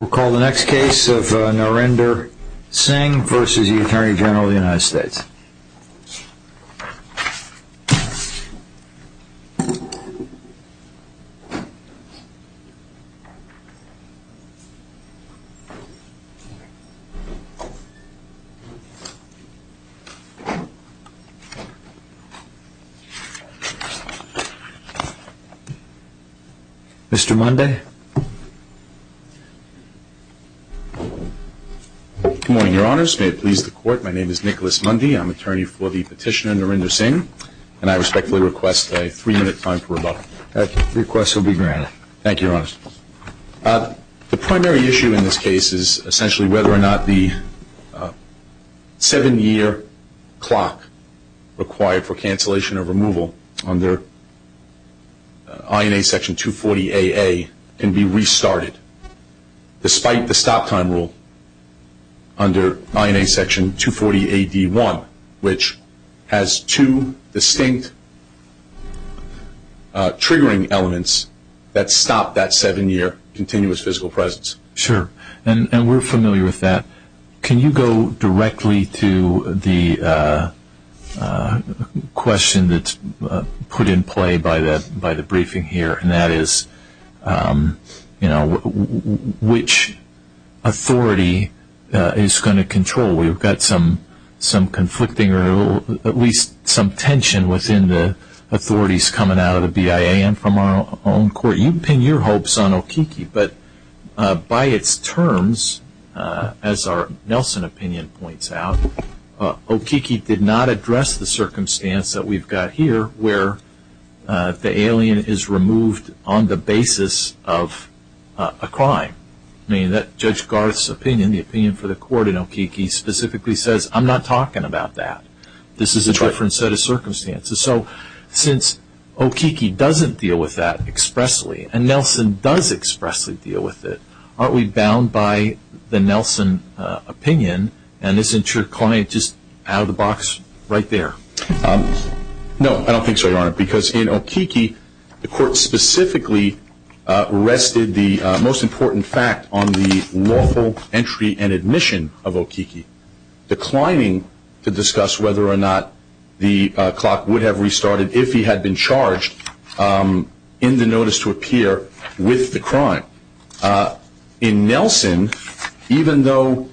We'll call the next case of Narendra Singh versus the Attorney General of the United States. Mr. Mundy. Good morning, your honors. May it please the court, my name is Nicholas Mundy. I'm attorney for the petitioner, Narendra Singh, and I respectfully request a three-minute time for rebuttal. That request will be granted. Thank you, your honors. The primary issue in this case is essentially whether or not the seven-year clock required for cancellation or removal under INA Section 240AA can be restarted despite the stop-time rule under INA Section 240AD1, which has two distinct triggering elements that stop that seven-year continuous physical presence. Sure. And we're familiar with that. Can you go directly to the question that's put in play by the briefing here, and that is, you know, which authority is going to control? We've got some conflicting or at least some tension within the authorities coming out of the BIA and from our own court. You can pin your hopes on Okiki, but by its terms, as our Nelson opinion points out, Okiki did not address the circumstance that we've got here where the alien is removed on the basis of a crime. I mean, Judge Garth's opinion, the opinion for the court in Okiki, specifically says I'm not talking about that. This is a different set of circumstances. So since Okiki doesn't deal with that expressly, and Nelson does expressly deal with it, aren't we bound by the Nelson opinion? And isn't your client just out of the box right there? No, I don't think so, Your Honor, because in Okiki, the court specifically arrested the most important fact on the lawful entry and admission of Okiki, declining to discuss whether or not the clock would have restarted if he had been charged in the notice to appear with the crime. In Nelson, even though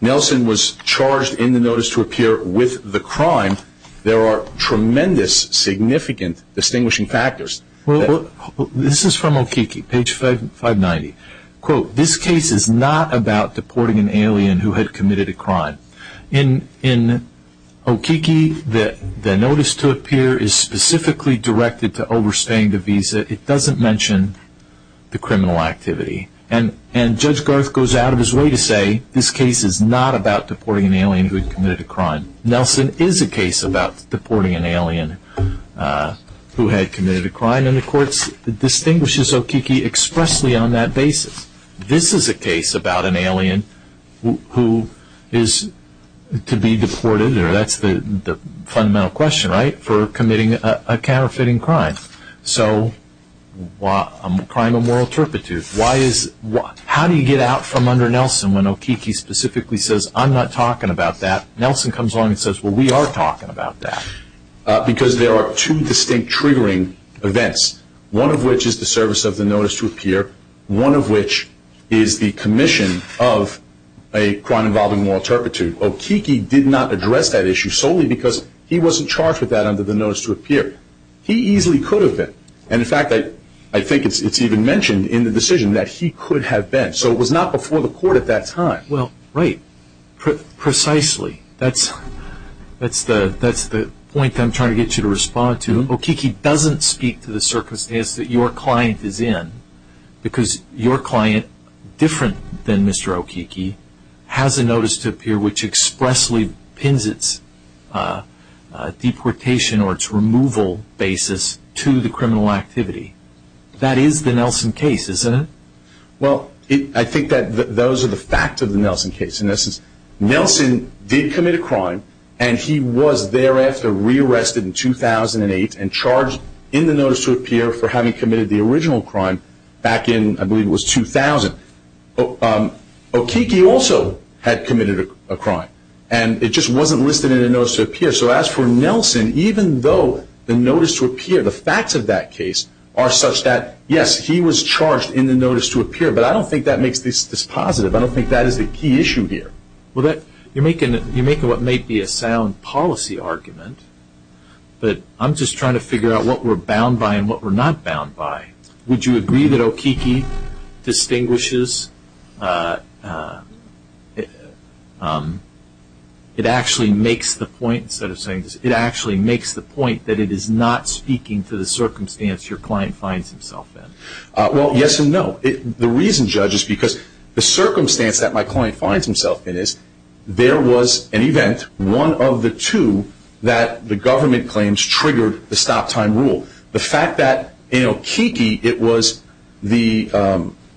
Nelson was charged in the notice to appear with the crime, there are tremendous, significant distinguishing factors. This is from Okiki, page 590. Quote, this case is not about deporting an alien who had committed a crime. In Okiki, the notice to appear is specifically directed to overstaying the visa. It doesn't mention the criminal activity. And Judge Garth goes out of his way to say this case is not about deporting an alien who had committed a crime. Nelson is a case about deporting an alien who had committed a crime, and the court distinguishes Okiki expressly on that basis. This is a case about an alien who is to be deported, or that's the fundamental question, right, for committing a counterfeiting crime. So, crime of moral turpitude. Why is, how do you get out from under Nelson when Okiki specifically says, I'm not talking about that. Nelson comes along and says, well, we are talking about that. Because there are two distinct triggering events. One of which is the service of the notice to appear. One of which is the commission of a crime involving moral turpitude. Okiki did not address that issue solely because he wasn't charged with that under the notice to appear. He easily could have been. And in fact, I think it's even mentioned in the decision that he could have been. So it was not before the court at that time. Well, right. Precisely. That's the point I'm trying to get you to respond to. Okiki doesn't speak to the circumstance that your client is in. Because your client, different than Mr. Okiki, has a notice to appear which expressly pins its deportation or its removal basis to the criminal activity. That is the Nelson case, isn't it? Well, I think that those are the facts of the Nelson case. In essence, Nelson did commit a crime and he was thereafter rearrested in 2008 and charged in the notice to appear for having committed the original crime back in, I believe it was 2000. Okiki also had committed a crime. And it just wasn't listed in the notice to appear. So as for Nelson, even though the notice to appear, the facts of that case, are such that yes, he was charged in the notice to appear, but I don't think that makes this positive. I don't think that is the key issue here. Well, you're making what might be a sound policy argument, but I'm just trying to figure out what we're bound by and what we're not bound by. Would you agree that Okiki distinguishes, it actually makes the point, instead of saying this, it actually makes the point that it is not speaking to the circumstance your client finds himself in? Well, yes and no. The reason, Judge, is because the circumstance that my client finds himself in is there was an event, one of the two, that the government claims triggered the stop time rule. The fact that in Okiki it was the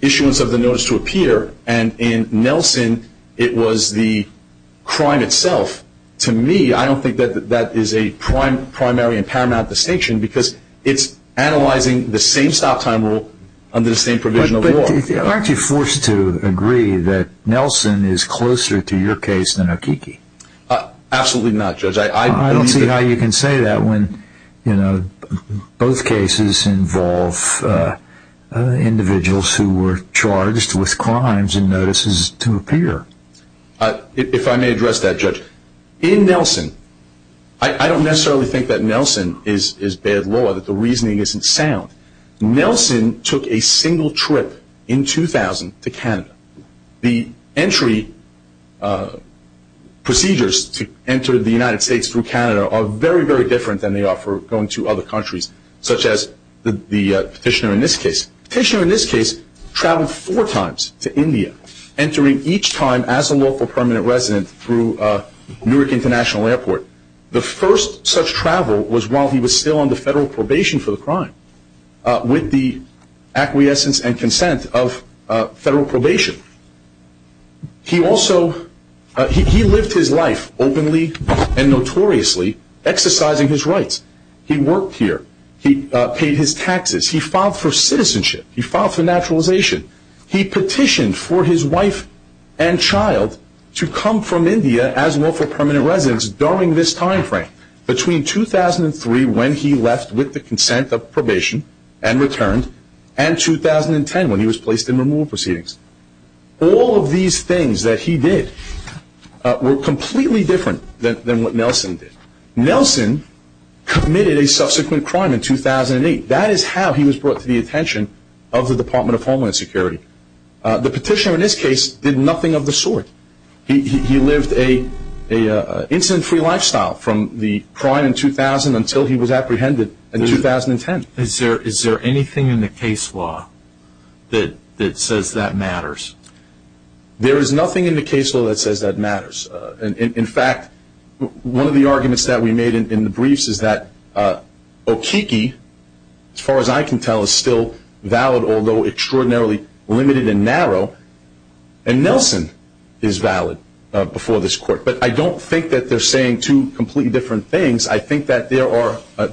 issuance of the notice to appear and in Nelson it was the crime itself, to me, I don't think that that is a primary and paramount distinction because it's analyzing the same stop time rule under the same provision of law. But aren't you forced to agree that Nelson is closer to your case than Okiki? Absolutely not, Judge. I don't see how you can say that when both cases involve individuals who were charged with crimes and notices to appear. If I may address that, Judge, in Nelson, I don't necessarily think that Nelson is bad law, that the reasoning isn't sound. The entry procedures to enter the United States through Canada are very, very different than they are for going to other countries, such as the petitioner in this case. The petitioner in this case traveled four times to India, entering each time as a local permanent resident through Newark International Airport. The first such travel was while he was still under federal probation for the crime, with the acquiescence and consent of federal probation. He also, he lived his life openly and notoriously, exercising his rights. He worked here, he paid his taxes, he filed for citizenship, he filed for naturalization, he petitioned for his wife and child to come from India as local permanent residents during this time frame, between 2003, when he left with the consent of probation and returned, and 2010, when he was placed in removal proceedings. All of these things that he did were completely different than what Nelson did. Nelson committed a subsequent crime in 2008. That is how he was brought to the attention of the Department of Homeland Security. The petitioner in this case did nothing of the sort. He lived an incident-free lifestyle from the crime in 2000 until he was apprehended in 2010. Is there anything in the case law that says that matters? There is nothing in the case law that says that matters. In fact, one of the arguments that we made in the briefs is that Okeke, as far as I can tell, is still valid, although extraordinarily limited and narrow, and Nelson is valid before this court. But I don't think that they're saying two completely different things. I think that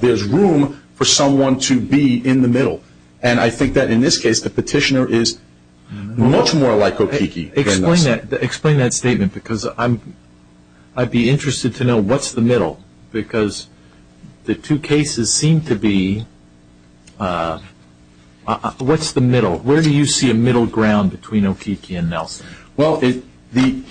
there's room for someone to be in the middle. And I think that in this case, the petitioner is much more like Okeke than Nelson. Explain that statement, because I'd be interested to know what's the middle. Because the two cases seem to be, what's the middle? Where do you see a middle ground between Okeke and Nelson? Well, the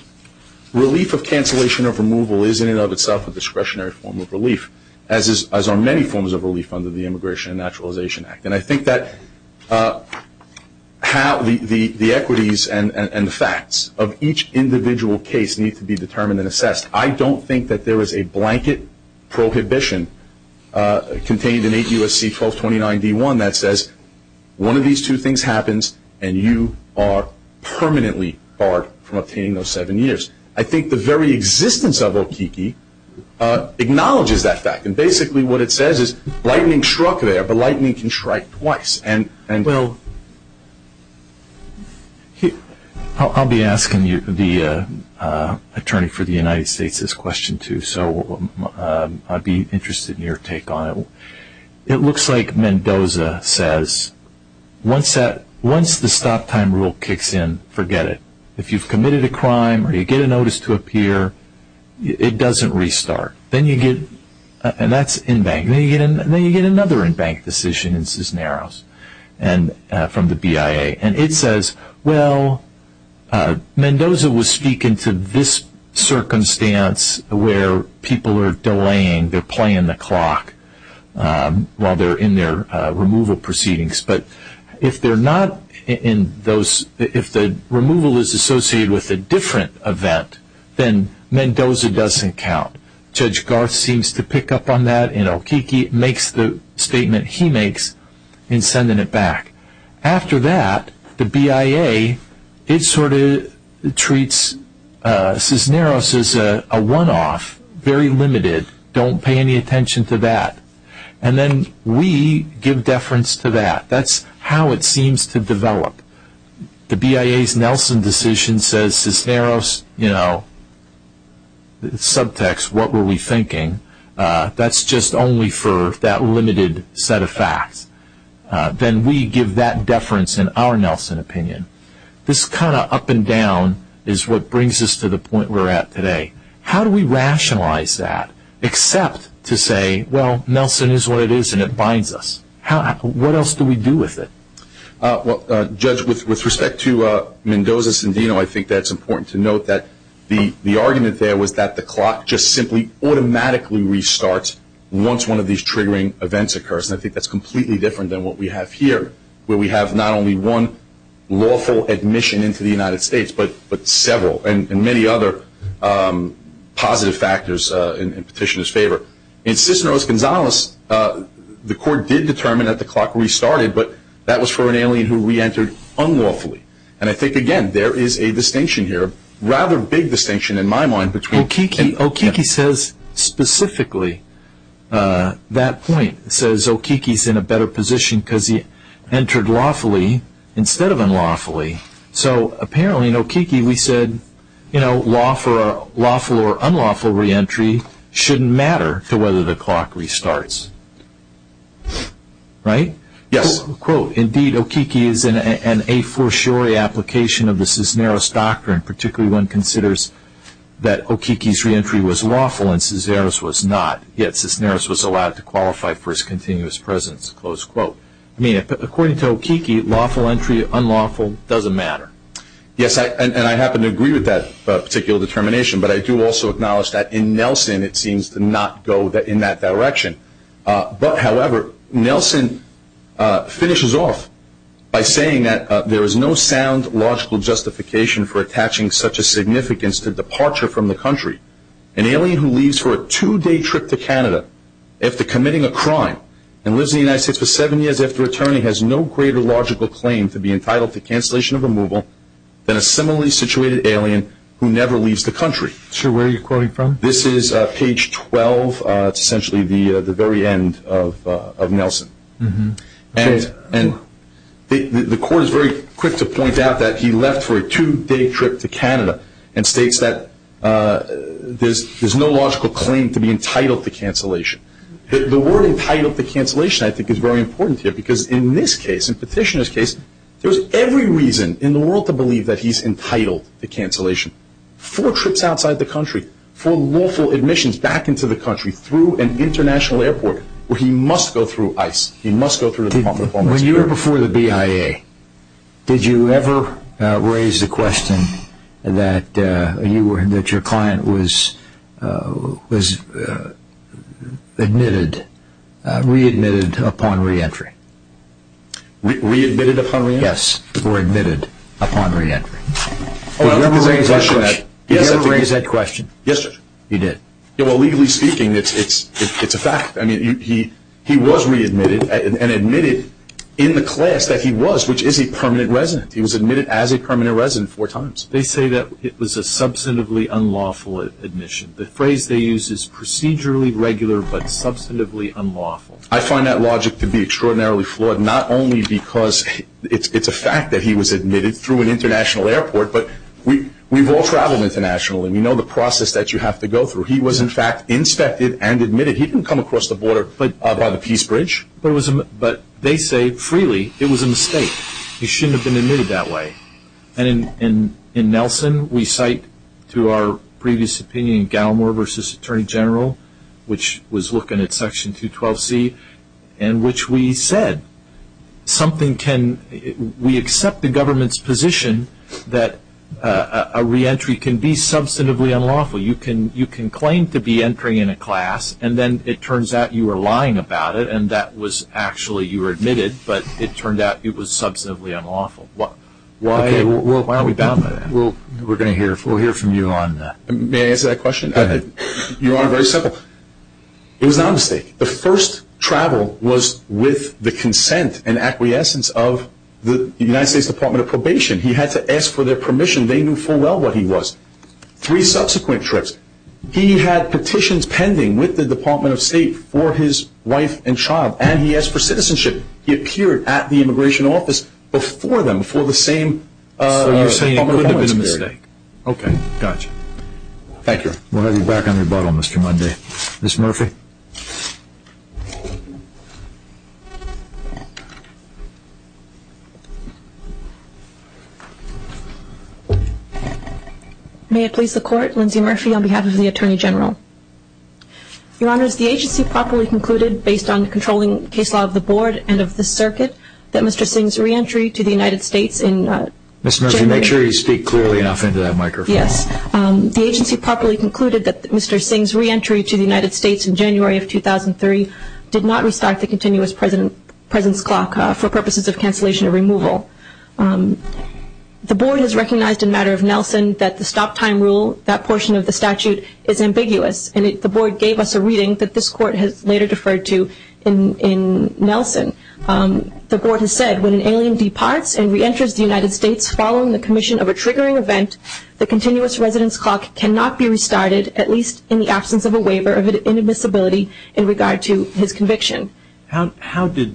relief of cancellation of removal is, in and of itself, a discretionary form of relief, as are many forms of relief under the Immigration and Naturalization Act. And I think that the equities and the facts of each individual case need to be determined and assessed. I don't think that there is a blanket prohibition contained in 8 U.S.C. 1229 D.1 that says, one of these two things happens and you are permanently barred from obtaining those seven years. I think the very existence of Okeke acknowledges that fact. And basically what it says is, lightning struck there, but lightning can strike twice. Well, I'll be asking the attorney for the United States this question too, so I'd be interested in your take on it. It looks like Mendoza says, once the stop time rule kicks in, forget it. If you've committed a crime or you get a notice to appear, it doesn't restart. Then you get, and that's in-bank, then you get another in-bank decision in Cisneros from the BIA. And it says, well, Mendoza was speaking to this circumstance where people are delaying, they're playing the clock while they're in their removal proceedings. But if they're not in those, if the removal is associated with a different event, then Mendoza doesn't count. Judge Garth seems to pick up on that and Okeke makes the statement he makes in sending it back. After that, the BIA, it sort of treats Cisneros as a one-off, very limited, don't pay any attention to that. And then we give deference to that. That's how it seems to develop. The BIA's Nelson decision says, Cisneros, subtext, what were we thinking? That's just only for that limited set of facts. Then we give that deference in our Nelson opinion. This kind of up and down is what brings us to the point we're at today. How do we rationalize that? Except to say, well, Nelson is what it is and it binds us. What else do we do with it? Well, Judge, with respect to Mendoza-Cendino, I think that's important to note that the argument there was that the clock just simply automatically restarts once one of these triggering events occurs. And I think that's completely different than what we have here, where we have not only one lawful admission into the United States, but several and many other positive factors in petitioner's favor. In Cisneros-Gonzalez, the court did determine that the clock restarted, but that was for an alien who re-entered unlawfully. And I think, again, there is a distinction here, rather big distinction in my mind between... Okiki says specifically that point, says Okiki's in a better position because he entered lawfully instead of unlawfully. So apparently in Okiki, we said lawful or unlawful re-entry shouldn't matter to whether the clock restarts. Right? Yes. Quote, indeed, Okiki is an a-for-sure application of the Cisneros doctrine, particularly one considers that Okiki's re-entry was lawful and Cisneros was not, yet Cisneros was allowed to qualify for his continuous presence, close quote. I mean, according to Okiki, lawful entry, unlawful, doesn't matter. Yes, and I happen to agree with that particular determination, but I do also acknowledge that in Nelson, it seems to not go in that direction. But however, Nelson finishes off by saying that there is no sound logical justification for attaching such a significance to departure from the country. An alien who leaves for a two-day trip to Canada after committing a crime and lives in the United States for seven years after returning has no greater logical claim to be entitled to cancellation of removal than a similarly situated alien who never leaves the country. Sir, where are you quoting from? This is page 12. It's essentially the very end of Nelson. And the court is very quick to point out that he left for a two-day trip to Canada and states that there's no logical claim to be entitled to cancellation. The word entitled to cancellation, I think, is very important here because in this case, in Petitioner's case, there's every reason in the world to believe that he's entitled to cancellation. Four trips outside the country. Four lawful admissions back into the country through an international airport where he must go through ICE. He must go through the Department of Homeland Security. When you were before the BIA, did you ever raise the question that your client was readmitted upon re-entry? Readmitted upon re-entry? Yes, or admitted upon re-entry. Did you ever raise that question? Yes, sir. You did. Well, legally speaking, it's a fact. I mean, he was readmitted and admitted in the class that he was, which is a permanent resident. He was admitted as a permanent resident four times. They say that it was a substantively unlawful admission. The phrase they use is procedurally regular but substantively unlawful. I find that logic to be extraordinarily flawed, not only because it's a fact that he was admitted through an international airport, but we've all traveled internationally. We know the process that you have to go through. He was, in fact, inspected and admitted. He didn't come across the border by the Peace Bridge. But they say, freely, it was a mistake. He shouldn't have been admitted that way. And in Nelson, we cite to our previous opinion, Gallimore v. Attorney General, which was looking at Section 212C, in which we said, we accept the government's position that a reentry can be substantively unlawful. You can claim to be entering in a class, and then it turns out you were lying about it, and that was actually you were admitted, but it turned out it was substantively unlawful. Why are we bound by that? Well, we're going to hear from you on that. May I answer that question? Go ahead. You are very simple. It was not a mistake. The first travel was with the consent and acquiescence of the United States Department of Probation. He had to ask for their permission. They knew full well what he was. Three subsequent trips, he had petitions pending with the Department of State for his wife and child, and he asked for citizenship. He appeared at the Immigration Office before them, before the same Department of Homeland Security. Okay, gotcha. Thank you. We'll have you back on rebuttal, Mr. Munday. Ms. Murphy. May it please the Court, Lindsay Murphy on behalf of the Attorney General. Your Honors, the agency properly concluded, based on the controlling case law of the Board and of the Circuit, that Mr. Singh's re-entry to the United States in January... Ms. Murphy, make sure you speak clearly enough into that microphone. Yes. The agency properly concluded that Mr. Singh's re-entry to the United States in January of 2003 did not restart the Continuous Presence Clock for purposes of cancellation or removal. The Board has recognized a matter of Nelson that the stop-time rule, that portion of the statute, is ambiguous, and the Board gave us a reading that this Court has later deferred to in Nelson. The Board has said, when an alien departs and re-enters the United States following the commission of a triggering event, the Continuous Residence Clock cannot be restarted, at least in the absence of a waiver of inadmissibility in regard to his conviction. How did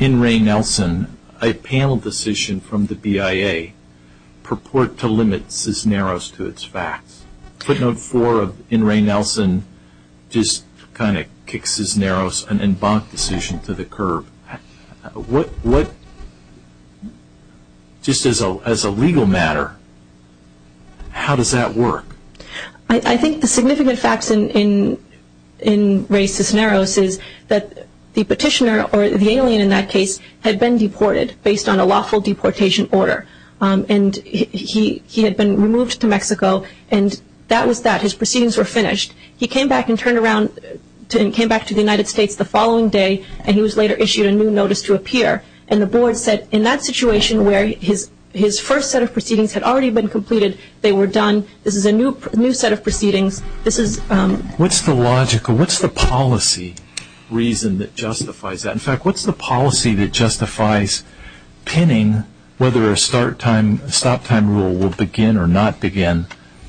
N. Ray Nelson, a panel decision from the BIA, purport to limit Cisneros to its facts? Footnote 4 of N. Ray Nelson just kind of kicks Cisneros, an embanked decision, to the curb. What... Just as a legal matter, how does that work? I think the significant facts in Ray Cisneros is that the petitioner, or the alien in that case, had been deported based on a lawful deportation order. And he had been removed to Mexico, and that was that. His proceedings were finished. He came back and turned around and came back to the United States the following day, and he was later issued a new notice to appear. And the Board said, in that situation, where his first set of proceedings had already been completed, they were done. This is a new set of proceedings. This is... What's the logical... What's the policy reason that justifies that? In fact, what's the policy that justifies pinning whether a stop time rule will begin or not begin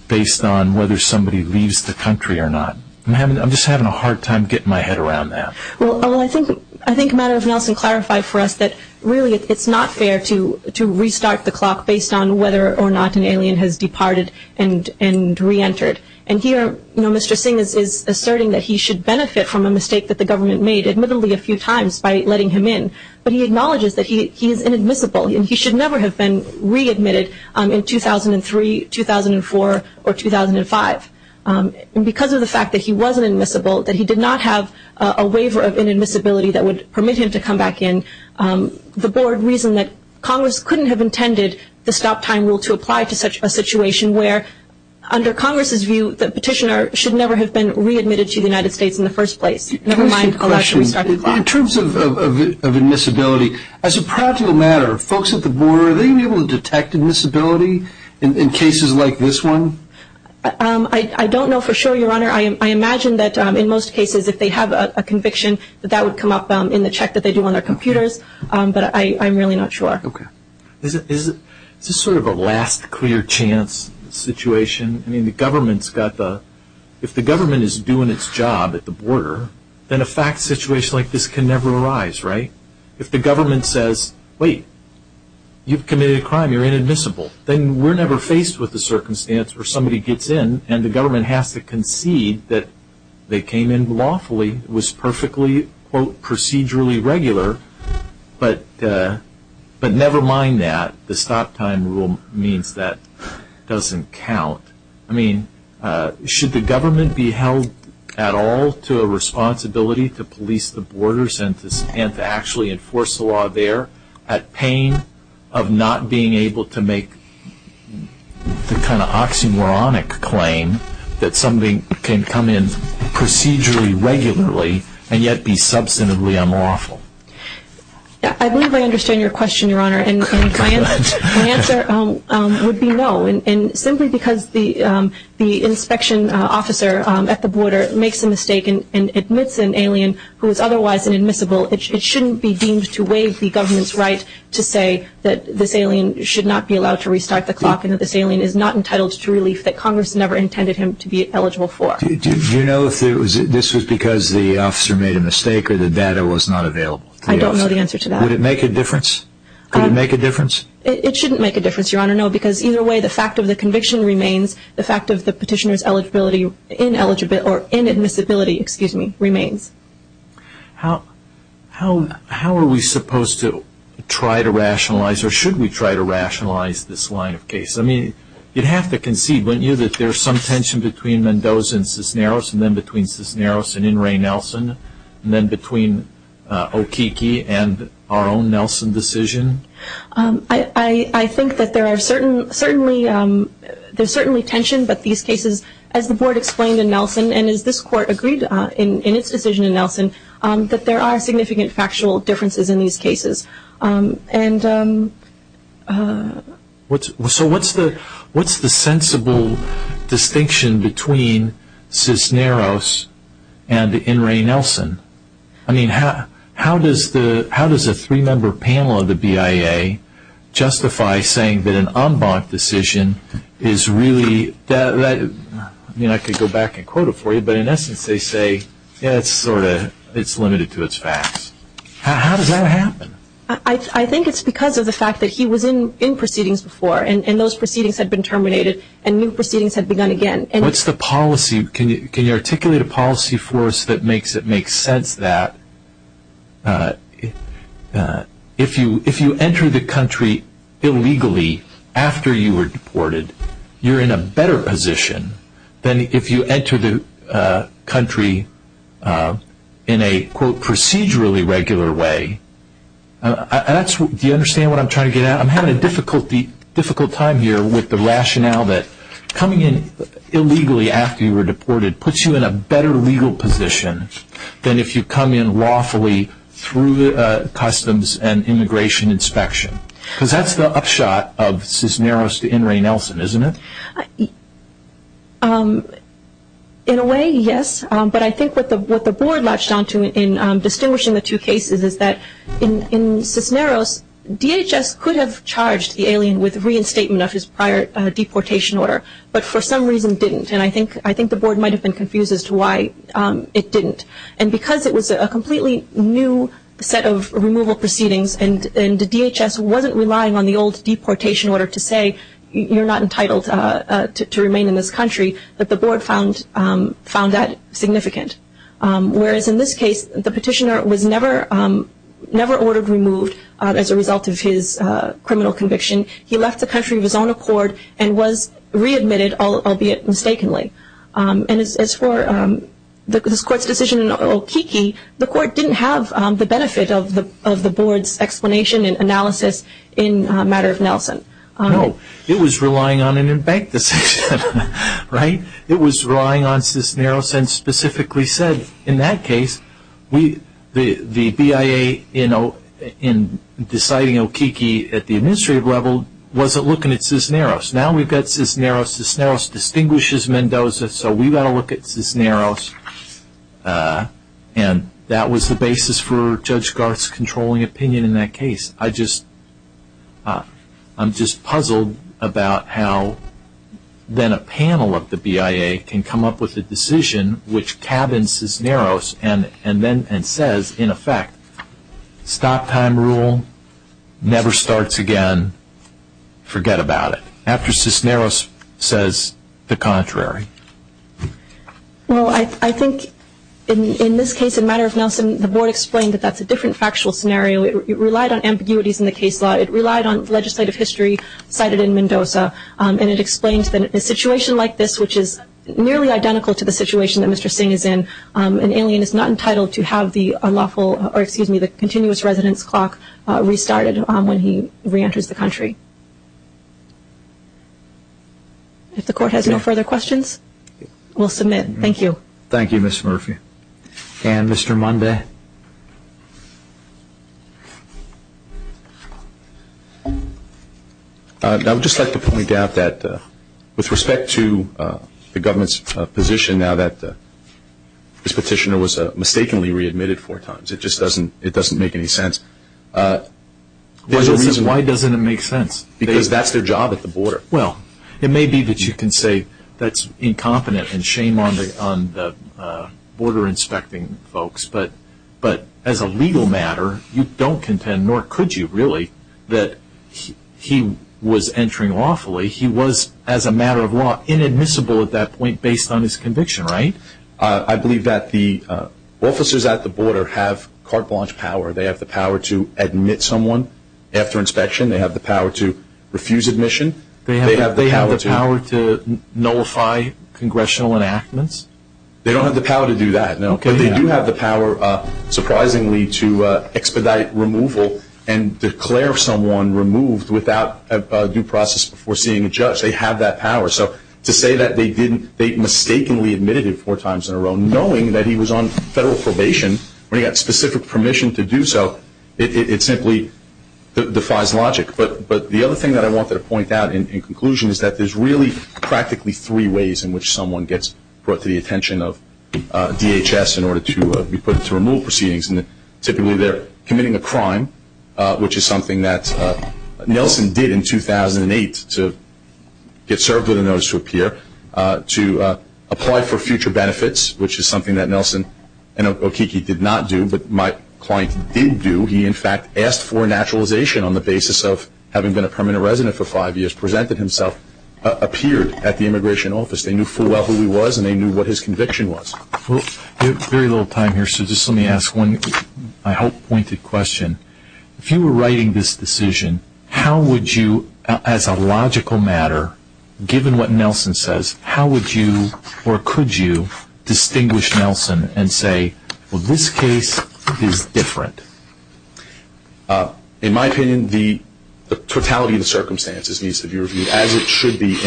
based on whether somebody leaves the country or not? I'm just having a hard time getting my head around that. Well, I think Madam Nelson clarified for us that really it's not fair to restart the clock based on whether or not an alien has departed and re-entered. And here, Mr. Singh is asserting that he should benefit from a mistake that the government made, admittedly a few times, by letting him in. But he acknowledges that he is inadmissible and he should never have been re-admitted in 2003, 2004, or 2005. And because of the fact that he wasn't admissible, that he did not have a waiver of inadmissibility that would permit him to come back in, the Board reasoned that Congress couldn't have intended the stop time rule to apply to such a situation where, under Congress's view, the petitioner should never have been re-admitted to the United States in the first place. Never mind allowed to restart the clock. In terms of admissibility, as a practical matter, folks at the Board, are they able to detect admissibility in cases like this one? I don't know for sure, Your Honor. I imagine that in most cases, if they have a conviction, that would come up in the check that they do on their computers. But I'm really not sure. Okay. Is this sort of a last clear chance situation? I mean, the government's got the... If the government is doing its job at the border, then a fact situation like this can never arise, right? If the government says, wait, you've committed a crime, you're inadmissible, then we're never faced with the circumstance where somebody gets in and the government has to concede that they came in lawfully, it was perfectly, quote, procedurally regular. But never mind that. The stop time rule means that doesn't count. I mean, should the government be held at all to a responsibility to police the borders and to actually enforce the law there at pain of not being able to make the kind of oxymoronic claim that somebody can come in procedurally regularly and yet be substantively unlawful? I believe I understand your question, Your Honor. My answer would be no. Simply because the inspection officer at the border makes a mistake and admits an alien who is otherwise inadmissible, it shouldn't be deemed to waive the government's right to say that this alien should not be allowed to restart the clock and that this alien is not entitled to relief that Congress never intended him to be eligible for. Do you know if this was because the officer made a mistake or the data was not available? I don't know the answer to that. Would it make a difference? Could it make a difference? It shouldn't make a difference, Your Honor. No, because either way, the fact of the conviction remains. The fact of the petitioner's eligibility ineligible or inadmissibility, excuse me, remains. How are we supposed to try to rationalize or should we try to rationalize this line of case? You'd have to concede, wouldn't you, that there's some tension between Mendoza and Cisneros and then between Cisneros and In re Nelson and then between O'Keeke and our own Nelson decision? I think that there are certainly tension, but these cases, as the board explained in Nelson and as this court agreed in its decision in Nelson, that there are significant factual differences in these cases. So what's the sensible distinction between Cisneros and In re Nelson? I mean, how does a three-member panel of the BIA justify saying that an en banc decision is really, I mean, I could go back and quote it for you, but in essence, they say, yeah, it's sort of, it's limited to its facts. How does that happen? I think it's because of the fact that he was in proceedings before and those proceedings had been terminated and new proceedings had begun again. What's the policy? Can you articulate a policy for us that makes it make sense that if you enter the country illegally after you were deported, you're in a better position than if you enter the country in a quote procedurally regular way. Do you understand what I'm trying to get at? I'm having a difficult time here with the rationale that coming in illegally after you were deported puts you in a better legal position than if you come in lawfully through customs and immigration inspection. Because that's the upshot of Cisneros to In re Nelson, isn't it? In a way, yes. But I think what the board latched on to in distinguishing the two cases is that in Cisneros, DHS could have charged the alien with reinstatement of his prior deportation order, but for some reason didn't. And I think the board might have been confused as to why it didn't. And because it was a completely new set of removal proceedings and the DHS wasn't relying on the old deportation order to say you're not entitled to remain in this country, that the board found that significant. Whereas in this case, the petitioner was never ordered removed as a result of his criminal conviction. He left the country of his own accord and was readmitted, albeit mistakenly. And as for this court's decision in Okeke, the court didn't have the benefit of the board's explanation and analysis in a matter of Nelson. No, it was relying on an in-bank decision, right? It was relying on Cisneros and specifically said in that case, the BIA in deciding Okeke at the administrative level wasn't looking at Cisneros. Now we've got Cisneros. Cisneros distinguishes Mendoza, so we've got to look at Cisneros. And that was the basis for Judge Garth's controlling opinion in that case. I just, I'm just puzzled about how then a panel of the BIA can come up with a decision which cabins Cisneros and then says, in effect, stop time rule, never starts again, forget about it. After Cisneros says the contrary. Well, I think in this case, a matter of Nelson, the board explained that that's a different factual scenario. It relied on ambiguities in the case law. It relied on legislative history cited in Mendoza. And it explains that a situation like this, which is nearly identical to the situation that Mr. Singh is in, an alien is not entitled to have the unlawful, or excuse me, the continuous residence clock restarted when he reenters the country. If the court has no further questions, we'll submit. Thank you. Thank you, Ms. Murphy. And Mr. Monday. I would just like to point out that with respect to the government's position now that this petitioner was mistakenly readmitted four times, it just doesn't, it doesn't make any sense. There's a reason. Why doesn't it make sense? Because that's their job at the border. Well, it may be that you can say that's incompetent and shame on the, on the border inspecting folks. But, but as a legal matter, you don't contend, nor could you really, that he was entering lawfully. He was, as a matter of law, inadmissible at that point based on his conviction, right? I believe that the officers at the border have carte blanche power. They have the power to admit someone after inspection. They have the power to refuse admission. They have the power to nullify congressional enactments. They don't have the power to do that, no. But they do have the power, surprisingly, to expedite removal and declare someone removed without due process before seeing a judge. They have that power. So to say that they didn't, they mistakenly admitted it four times in a row, knowing that he was on federal probation when he got specific permission to do so, it simply defies logic. But, but the other thing that I wanted to point out in conclusion is that there's really practically three ways in which someone gets brought to the attention of DHS in order to be put into removal proceedings. And typically, they're committing a crime, which is something that Nelson did in 2008 to get served with a notice to appear, to apply for future benefits, which is something that Nelson and Okiki did not do, but my client did do. He, in fact, asked for a naturalization on the basis of having been a permanent resident for five years, presented himself, appeared at the immigration office. They knew full well who he was, and they knew what his conviction was. Well, we have very little time here, so just let me ask one, I hope, pointed question. If you were writing this decision, how would you, as a logical matter, given what Nelson says, how would you, or could you, distinguish Nelson and say, well, this case is different? In my opinion, the totality of the circumstances needs to be reviewed, as it should be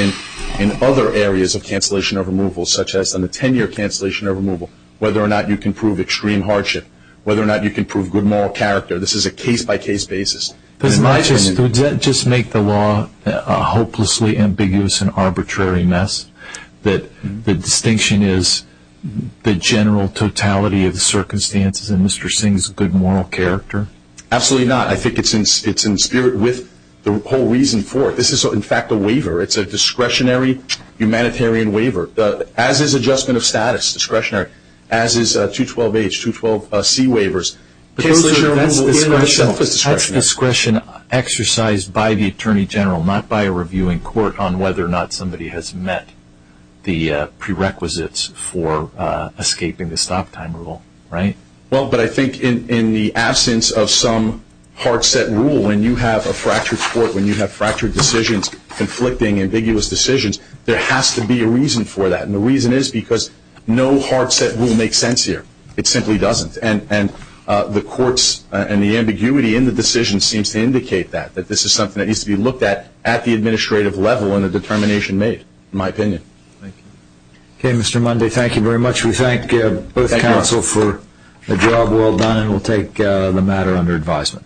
in other areas of cancellation or removal, such as on the 10-year cancellation or removal, whether or not you can prove extreme hardship, whether or not you can prove good moral character. This is a case-by-case basis. Does it not just make the law a hopelessly ambiguous and arbitrary mess, that the distinction is the general totality of the circumstances and Mr. Singh's good moral character? Absolutely not. I think it's in spirit with the whole reason for it. This is, in fact, a waiver. It's a discretionary humanitarian waiver, as is adjustment of status discretionary, as is 212H, 212C waivers. Cancellation or removal in and of itself is discretionary. That's discretion exercised by the Attorney General, not by a reviewing court on whether or not somebody has met the prerequisites for escaping the stop time rule, right? Well, but I think in the absence of some hard set rule, when you have a fractured court, when you have fractured decisions, conflicting, ambiguous decisions, there has to be a reason for that. And the reason is because no hard set rule makes sense here. It simply doesn't. And the courts and the ambiguity in the decision seems to indicate that, that this is something that needs to be looked at at the administrative level and the determination made, in my opinion. Thank you. Okay, Mr. Monday, thank you very much. We thank both counsel for the job well done. And we'll take the matter under advisement.